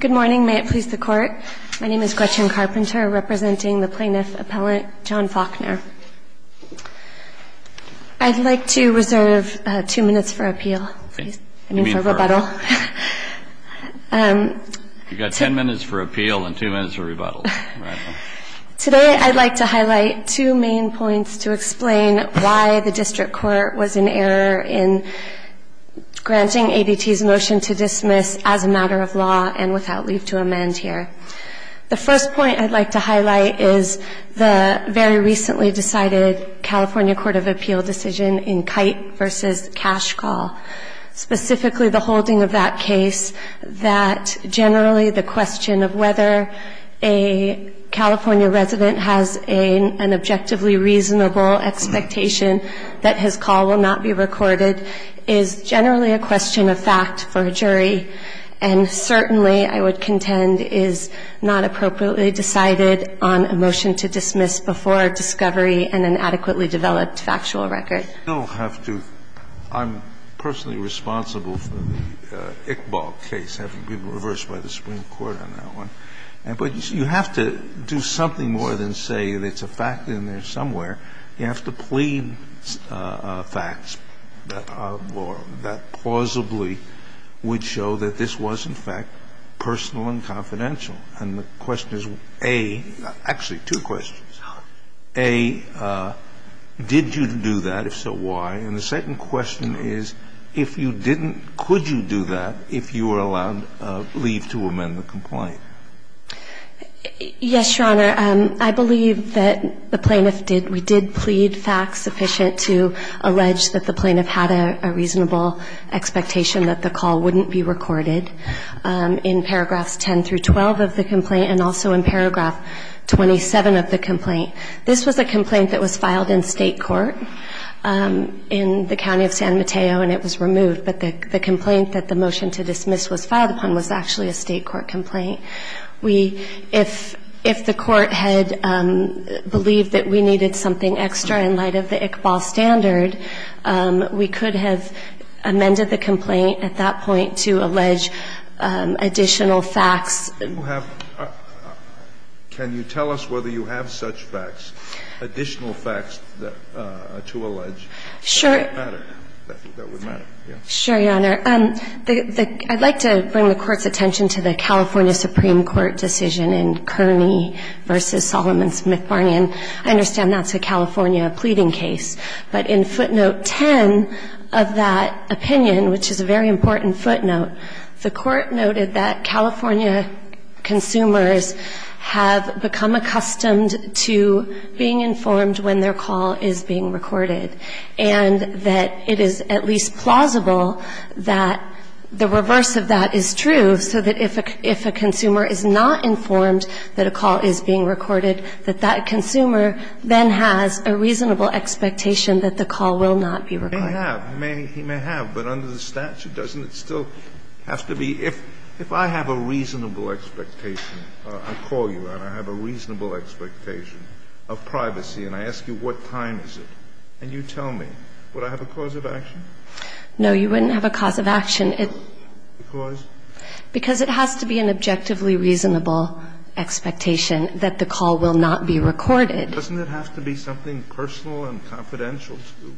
Good morning. May it please the Court. My name is Gretchen Carpenter, representing the Plaintiff Appellant John Faulkner. I'd like to reserve two minutes for appeal. I mean, for rebuttal. You've got ten minutes for appeal and two minutes for rebuttal. Today I'd like to highlight two main points to explain why the District Court was in error in granting ADT's motion to dismiss as a matter of law and without leave to amend here. The first point I'd like to highlight is the very recently decided California Court of Appeal decision in Kite v. Cash Call. Specifically the holding of that case that generally the question of whether a California resident has an objectively reasonable expectation that his call will not be recorded is generally a question of fact for a jury and certainly, I would contend, is not appropriately decided on a motion to dismiss before discovery and an adequately developed factual record. You don't have to – I'm personally responsible for the Iqbal case having been reversed by the Supreme Court on that one. But you have to do something more than say there's a fact in there somewhere. You have to plead facts that plausibly would show that this was, in fact, personal and confidential. And the question is, A – actually, two questions – A, did you do that? If so, why? And the second question is, if you didn't, could you do that if you were allowed leave to amend the complaint? Yes, Your Honor. I believe that the plaintiff did – we did plead facts sufficient to allege that the plaintiff had a reasonable expectation that the call wouldn't be recorded in paragraphs 10 through 12 of the complaint and also in paragraph 27 of the complaint. This was a complaint that was filed in state court in the county of San Mateo and it was removed. But the complaint that the motion to dismiss was filed upon was actually a state court complaint. We – if the court had believed that we needed something extra in light of the Iqbal standard, we could have amended the complaint at that point to allege additional facts. You have – can you tell us whether you have such facts, additional facts to allege? Sure. That would matter. Sure, Your Honor. I'd like to bring the Court's attention to the California Supreme Court decision in Kearney v. Solomon Smith-Barney. And I understand that's a California pleading case. But in footnote 10 of that opinion, which is a very important footnote, the Court noted that California consumers have become accustomed to being informed when their call is being recorded that the reverse of that is true, so that if a consumer is not informed that a call is being recorded, that that consumer then has a reasonable expectation that the call will not be recorded. He may have. He may have. But under the statute, doesn't it still have to be – if I have a reasonable expectation, I call you and I have a reasonable expectation of privacy and I ask you what time is it, and you tell me, would I have a cause of action? No, you wouldn't have a cause of action. Because? Because it has to be an objectively reasonable expectation that the call will not be recorded. Doesn't it have to be something personal and confidential, too?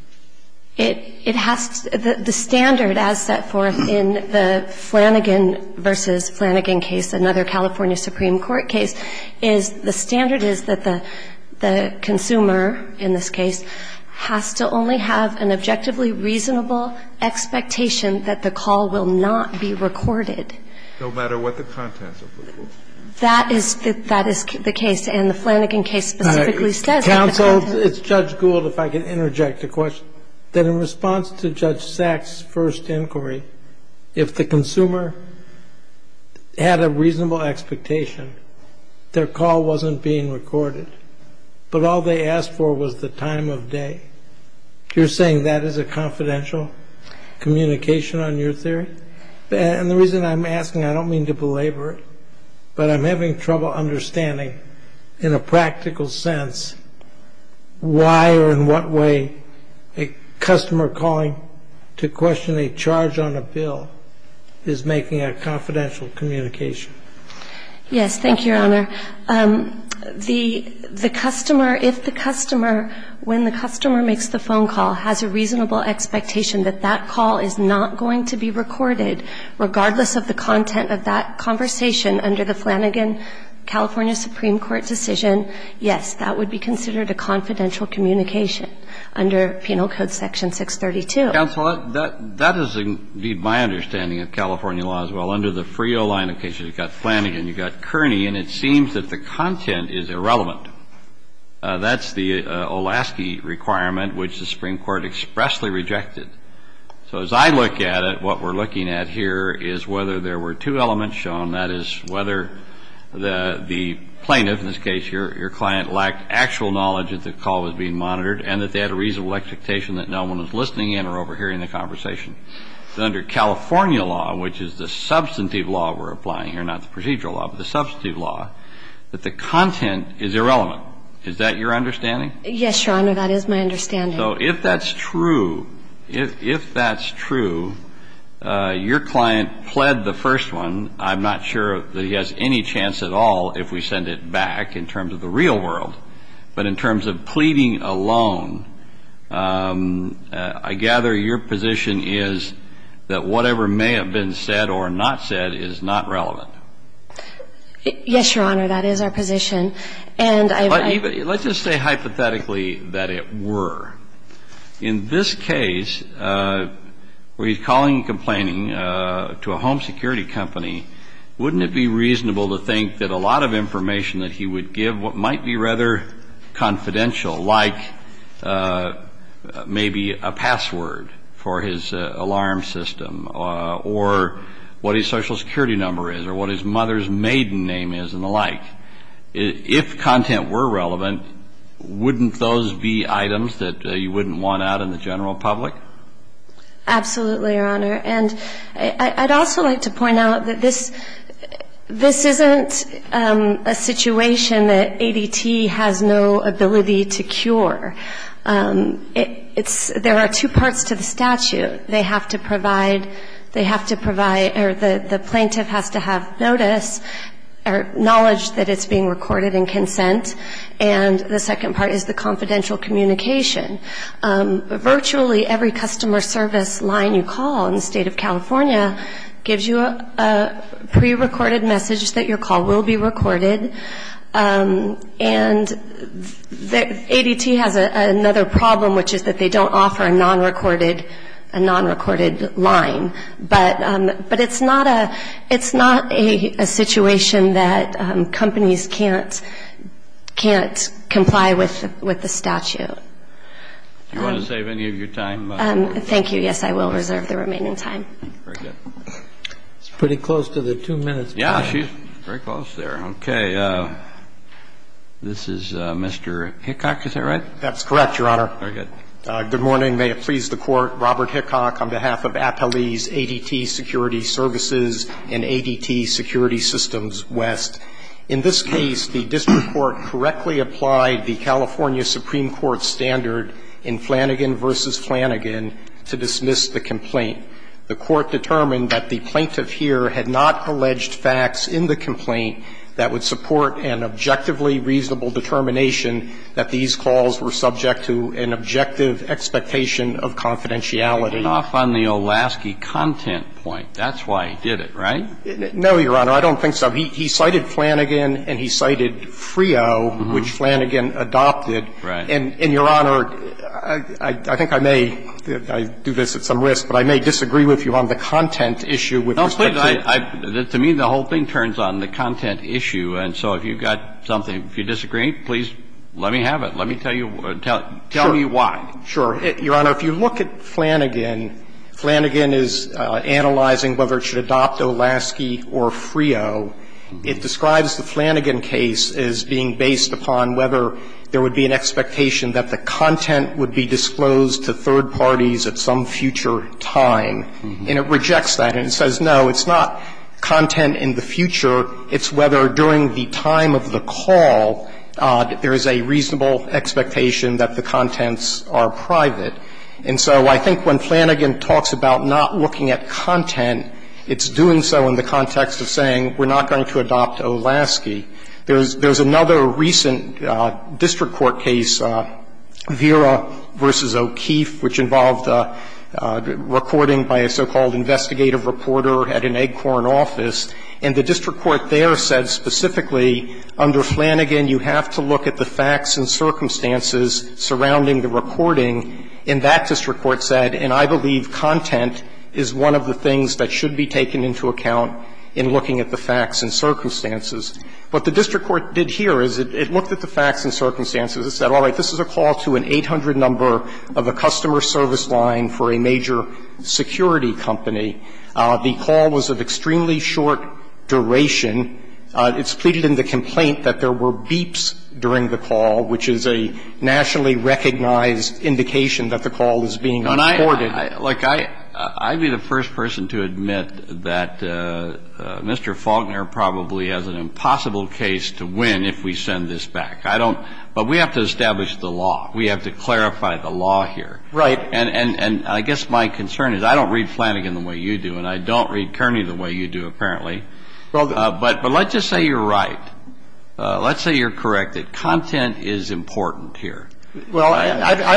It has to – the standard as set forth in the Flanagan v. Flanagan case, another California Supreme Court case, is the standard is that the consumer in this case has to only have an objectively reasonable expectation that the call will not be recorded. No matter what the contents of the call. That is the case. And the Flanagan case specifically says that the contents of the call. Counsel, it's Judge Gould, if I can interject a question. That in response to Judge Sack's first inquiry, if the consumer had a reasonable expectation, their call wasn't being recorded, but all they asked for was the time of day. You're saying that is a confidential communication on your theory? And the reason I'm asking, I don't mean to belabor it, but I'm having trouble understanding in a practical sense why or in what way a customer calling to question a charge on a bill is making a confidential communication. Yes. Thank you, Your Honor. The customer, if the customer, when the customer makes the phone call, has a reasonable expectation that that call is not going to be recorded, regardless of the content of that conversation under the Flanagan California Supreme Court decision, yes, that would be considered a confidential communication under Penal Code Section 632. Counsel, that is indeed my understanding of California law as well. Under the FREO line of cases, you've got Flanagan, you've got Kearney, and it seems that the content is irrelevant. That's the Olaski requirement, which the Supreme Court expressly rejected. So as I look at it, what we're looking at here is whether there were two elements shown, and that is whether the plaintiff, in this case your client, lacked actual knowledge that the call was being monitored and that they had a reasonable expectation that no one was listening in or overhearing the conversation. Under California law, which is the substantive law we're applying here, not the procedural law, but the substantive law, that the content is irrelevant. Is that your understanding? Yes, Your Honor. That is my understanding. So if that's true, if that's true, your client pled the first one. I'm not sure that he has any chance at all if we send it back in terms of the real world, but in terms of pleading alone, I gather your position is that whatever may have been said or not said is not relevant. Yes, Your Honor. That is our position. And I believe it's true. But let's just say hypothetically that it were. In this case, where he's calling and complaining to a home security company, wouldn't it be reasonable to think that a lot of information that he would give, what might be rather confidential, like maybe a password for his alarm system or what his social security number is or what his mother's maiden name is and the like, if content were relevant, wouldn't those be items that you wouldn't want out in the general public? Absolutely, Your Honor. And I'd also like to point out that this isn't a situation that ADT has no ability to cure. There are two parts to the statute. They have to provide, they have to provide, or the plaintiff has to have notice or knowledge that it's being recorded in consent. And the second part is the confidential communication. Virtually every customer service line you call in the state of California gives you a prerecorded message that your call will be recorded. And ADT has another problem, which is that they don't offer a non-recorded line. But it's not a situation that companies can't comply with the statute. Do you want to save any of your time? Thank you. Yes, I will reserve the remaining time. Very good. It's pretty close to the two minutes. Yeah, she's very close there. Okay. This is Mr. Hickock, is that right? That's correct, Your Honor. Very good. Good morning. May it please the Court. Robert Hickock on behalf of Appellee's ADT Security Services and ADT Security Systems West. In this case, the district court correctly applied the California Supreme Court standard in Flanagan v. Flanagan to dismiss the complaint. The court determined that the plaintiff here had not alleged facts in the complaint that would support an objectively reasonable determination that these calls were subject to an objective expectation of confidentiality. I cut off on the Olasky content point. That's why I did it, right? No, Your Honor. I don't think so. He cited Flanagan and he cited FRIO, which Flanagan adopted. Right. And, Your Honor, I think I may do this at some risk, but I may disagree with you on the content issue with respect to the complaint. To me, the whole thing turns on the content issue. And so if you've got something, if you disagree, please let me have it. Let me tell you why. Sure. Your Honor, if you look at Flanagan, Flanagan is analyzing whether it should adopt Olasky or FRIO. It describes the Flanagan case as being based upon whether there would be an expectation that the content would be disclosed to third parties at some future time. And it rejects that and says, no, it's not content in the future, it's whether during the time of the call there is a reasonable expectation that the contents are private. And so I think when Flanagan talks about not looking at content, it's doing so in the context of saying we're not going to adopt Olasky. There's another recent district court case, Vera v. O'Keeffe, which involved recording by a so-called investigative reporter at an ACORN office. And the district court there said specifically, under Flanagan, you have to look at the facts and circumstances surrounding the recording. And that district court said, and I believe content is one of the things that should be taken into account in looking at the facts and circumstances. What the district court did here is it looked at the facts and circumstances and said, all right, this is a call to an 800 number of a customer service line for a major security company. The call was of extremely short duration. It's pleaded in the complaint that there were beeps during the call, which is a nationally recognized indication that the call is being recorded. And I, like, I'd be the first person to admit that Mr. Faulkner probably has an impossible case to win if we send this back. I don't – but we have to establish the law. We have to clarify the law here. Right. And I guess my concern is, I don't read Flanagan the way you do, and I don't read Kearney the way you do, apparently. But let's just say you're right. Let's say you're correct that content is important here. Well, I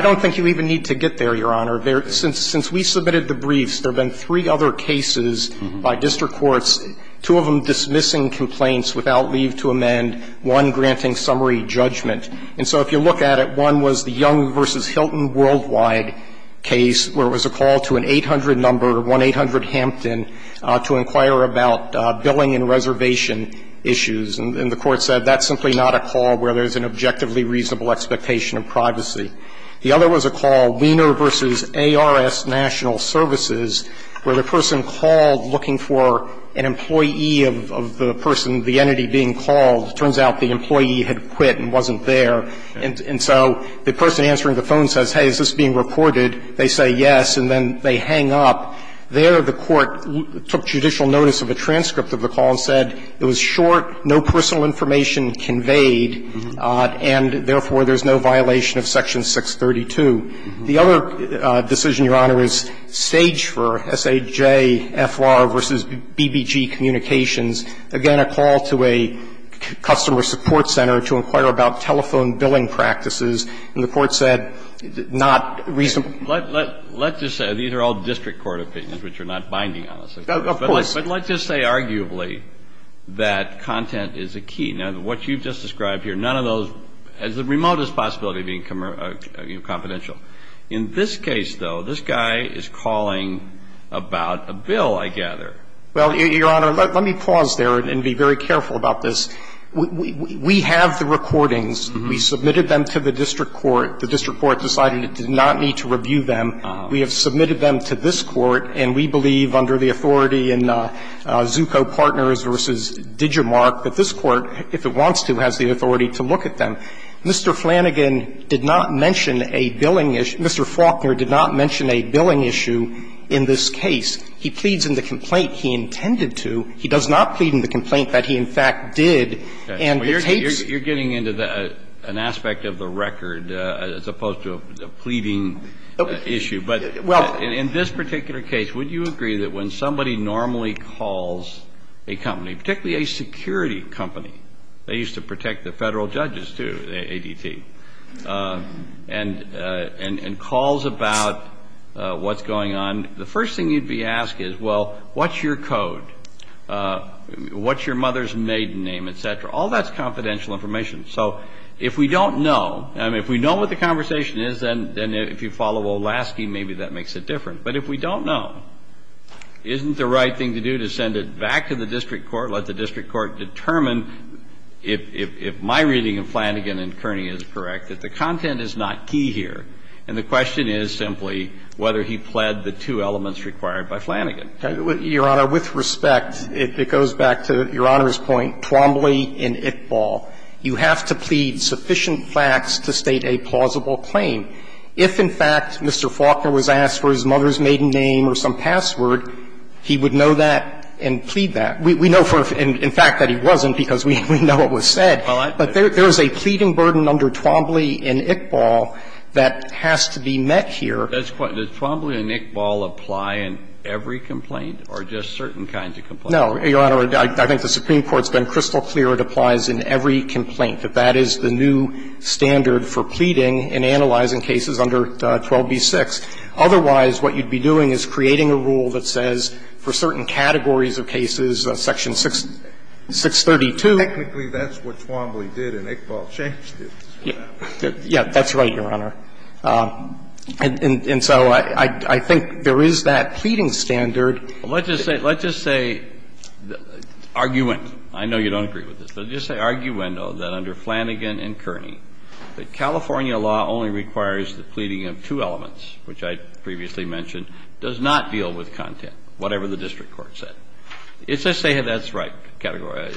don't think you even need to get there, Your Honor. Since we submitted the briefs, there have been three other cases by district courts, two of them dismissing complaints without leave to amend, one granting summary judgment. And so if you look at it, one was the Young v. Hilton Worldwide case, where it was a call to an 800 number, 1-800-HAMPTON, to inquire about billing and reservation issues. And the Court said that's simply not a call where there's an objectively reasonable expectation of privacy. The other was a call, Wiener v. ARS National Services, where the person called looking for an employee of the person, the entity being called. Turns out the employee had quit and wasn't there. And so the person answering the phone says, hey, is this being reported? They say yes, and then they hang up. There, the Court took judicial notice of a transcript of the call and said it was short, no personal information conveyed, and therefore, there's no violation of Section 632. The other decision, Your Honor, is Sage v. SAJ-FLR v. BBG Communications. Again, a call to a customer support center to inquire about telephone billing practices, and the Court said not reasonable. Let's just say these are all district court opinions, which are not binding on us. Of course. But let's just say arguably that content is a key. Now, what you've just described here, none of those has the remotest possibility of being confidential. In this case, though, this guy is calling about a bill, I gather. Well, Your Honor, let me pause there and be very careful about this. We have the recordings. We submitted them to the district court. The district court decided it did not need to review them. We have submitted them to this Court, and we believe under the authority in Zucco Partners v. Digimarc that this Court, if it wants to, has the authority to look at them. Mr. Flanagan did not mention a billing issue – Mr. Faulkner did not mention a billing issue in this case. He pleads in the complaint he intended to. He does not plead in the complaint that he, in fact, did. And the tapes – You're getting into an aspect of the record as opposed to a pleading issue. But in this particular case, would you agree that when somebody normally calls a company, particularly a security company – they used to protect the Federal judges, too, ADT – and calls about what's going on, the first thing you'd be asking is, well, what's your code? What's your mother's maiden name, et cetera? All that's confidential information. So if we don't know – I mean, if we know what the conversation is, then if you follow Olaski, maybe that makes it different. But if we don't know, isn't the right thing to do to send it back to the district court, let the district court determine if my reading of Flanagan and Kearney is correct, that the content is not key here, and the question is simply whether he pled the two elements required by Flanagan. Your Honor, with respect, it goes back to Your Honor's point, Twombly and Iqbal. You have to plead sufficient facts to state a plausible claim. If, in fact, Mr. Faulkner was asked for his mother's maiden name or some password, he would know that and plead that. We know for a fact that he wasn't, because we know it was said. But there is a pleading burden under Twombly and Iqbal that has to be met here. Kennedy, does Twombly and Iqbal apply in every complaint, or just certain kinds of complaints? No, Your Honor, I think the Supreme Court's been crystal clear it applies in every complaint, that that is the new standard for pleading in analyzing cases under 12b-6. Otherwise, what you'd be doing is creating a rule that says for certain categories of cases, section 632. Technically, that's what Twombly did and Iqbal changed it. Yeah, that's right, Your Honor. And so I think there is that pleading standard. Let's just say, let's just say, arguendo, I know you don't agree with this, but let's just say arguendo that under Flanagan and Kearney, that California law only requires the pleading of two elements, which I previously mentioned, does not deal with content, whatever the district court said. It's to say that that's right, category.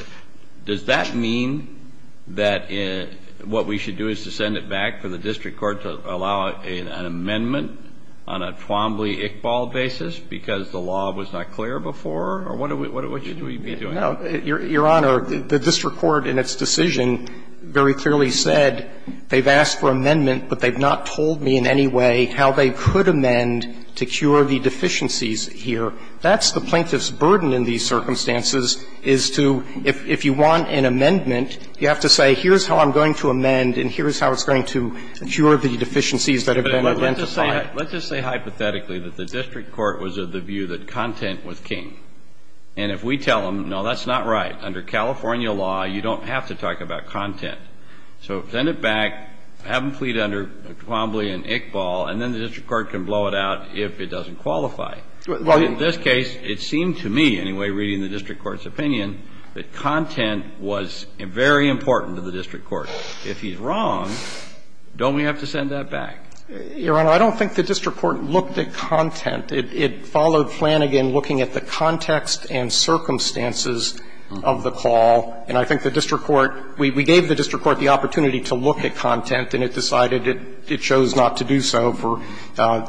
Does that mean that what we should do is to send it back for the district court to allow an amendment on a Twombly-Iqbal basis because the law was not clear before, or what should we be doing? No. Your Honor, the district court in its decision very clearly said they've asked for amendment, but they've not told me in any way how they could amend to cure the deficiencies here. That's the plaintiff's burden in these circumstances is to, if you want an amendment, you have to say, here's how I'm going to amend and here's how it's going to cure the deficiencies that have been identified. Let's just say hypothetically that the district court was of the view that content was king. And if we tell them, no, that's not right. Under California law, you don't have to talk about content. So send it back, have them plead under Twombly and Iqbal, and then the district court can blow it out if it doesn't qualify. Well, in this case, it seemed to me, anyway, reading the district court's opinion, that content was very important to the district court. If he's wrong, don't we have to send that back? Your Honor, I don't think the district court looked at content. It followed Flanagan looking at the context and circumstances of the call. And I think the district court, we gave the district court the opportunity to look at content, and it decided it chose not to do so for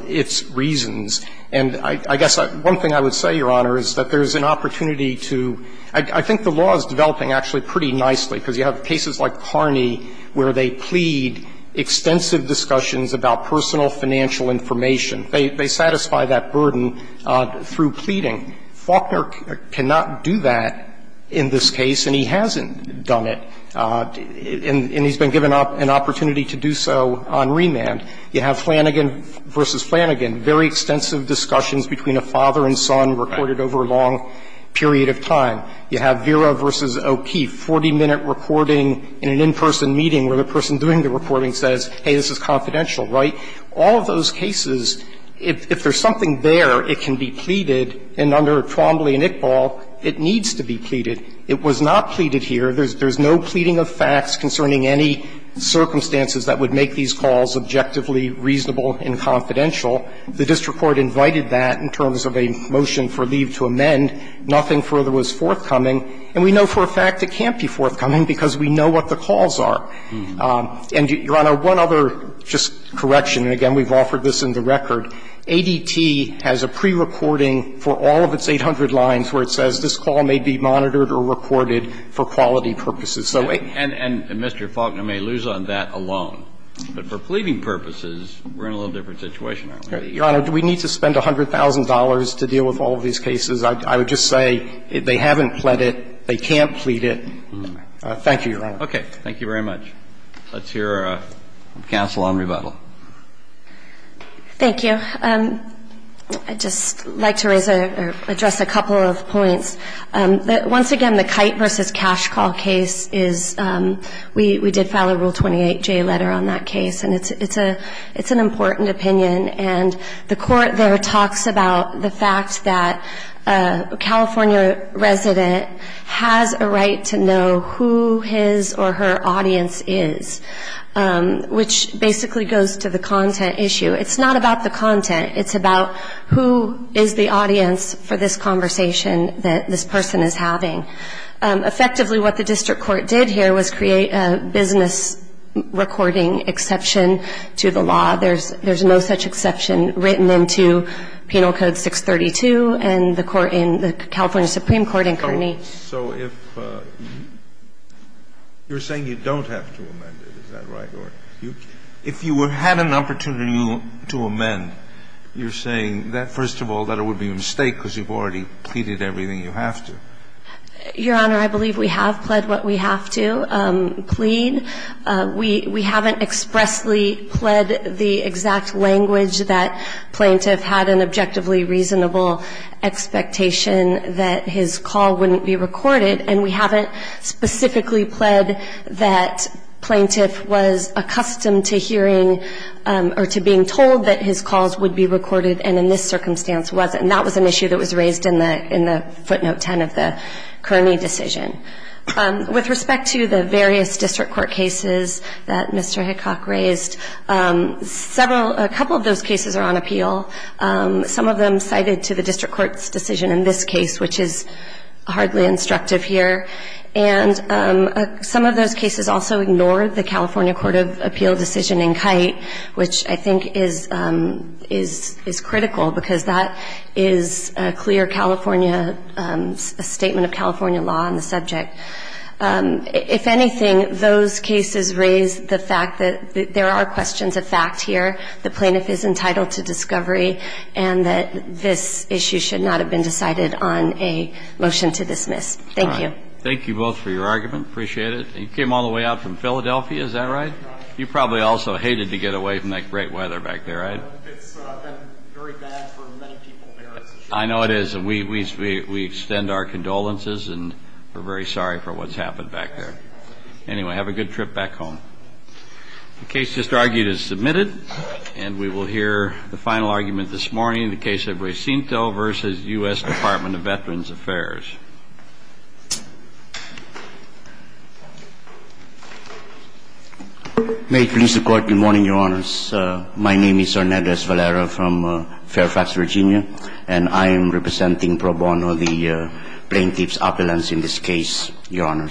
its reasons. And I guess one thing I would say, Your Honor, is that there's an opportunity to – I think the law is developing actually pretty nicely, because you have cases like Carney where they plead extensive discussions about personal financial information. They satisfy that burden through pleading. Faulkner cannot do that in this case, and he hasn't done it. And he's been given an opportunity to do so on remand. You have Flanagan v. Flanagan, very extensive discussions between a father and son recorded over a long period of time. You have Vera v. O'Keefe, 40-minute recording in an in-person meeting where the person doing the recording says, hey, this is confidential, right? All of those cases, if there's something there, it can be pleaded, and under Twombly and Iqbal, it needs to be pleaded. It was not pleaded here. There's no pleading of facts concerning any circumstances that would make these calls objectively reasonable and confidential. The district court invited that in terms of a motion for leave to amend. Nothing further was forthcoming. And we know for a fact it can't be forthcoming, because we know what the calls are. And, Your Honor, one other just correction, and again, we've offered this in the record. ADT has a prerecording for all of its 800 lines where it says, this call may be monitored or recorded for quality purposes. And Mr. Faulkner may lose on that alone. But for pleading purposes, we're in a little different situation, aren't we? Your Honor, do we need to spend $100,000 to deal with all of these cases? I would just say they haven't pled it, they can't plead it. Thank you, Your Honor. Okay. Thank you very much. Let's hear counsel on rebuttal. Thank you. I'd just like to raise or address a couple of points. Once again, the Kite v. Cash Call case is, we did file a Rule 28J letter on that case. And it's an important opinion. And the court there talks about the fact that a California resident has a right to know who his or her audience is, which basically goes to the content issue. It's not about the content. It's about who is the audience for this conversation that this person is having. Effectively, what the district court did here was create a business recording exception to the law. There's no such exception written into Penal Code 632 and the court in the California Supreme Court in Kearney. So if you're saying you don't have to amend it, is that right? No, Your Honor. If you had an opportunity to amend, you're saying that, first of all, that it would be a mistake because you've already pleaded everything you have to. Your Honor, I believe we have pled what we have to plead. We haven't expressly pled the exact language that plaintiff had an objectively reasonable expectation that his call wouldn't be recorded. And we haven't specifically pled that plaintiff was accustomed to hearing or to being told that his calls would be recorded and in this circumstance wasn't. And that was an issue that was raised in the footnote 10 of the Kearney decision. With respect to the various district court cases that Mr. Hickok raised, a couple of those cases are on appeal. Some of them cited to the district court's decision in this case, which is hardly instructive here. And some of those cases also ignored the California Court of Appeal decision in Kite, which I think is critical because that is a clear California, a statement of California law on the subject. If anything, those cases raise the fact that there are questions of fact here, the plaintiff is entitled to discovery, and that this issue should not have been decided on a motion to dismiss. Thank you. Thank you both for your argument. Appreciate it. You came all the way out from Philadelphia, is that right? You probably also hated to get away from that great weather back there, right? It's been very bad for many people there. I know it is. We extend our condolences and we're very sorry for what's happened back there. Anyway, have a good trip back home. The case just argued is submitted and we will hear the final argument this morning, the Veterans Affairs. May it please the Court, good morning, Your Honors. My name is Hernandez Valera from Fairfax, Virginia, and I am representing Pro Bono, the plaintiff's opulence in this case, Your Honors.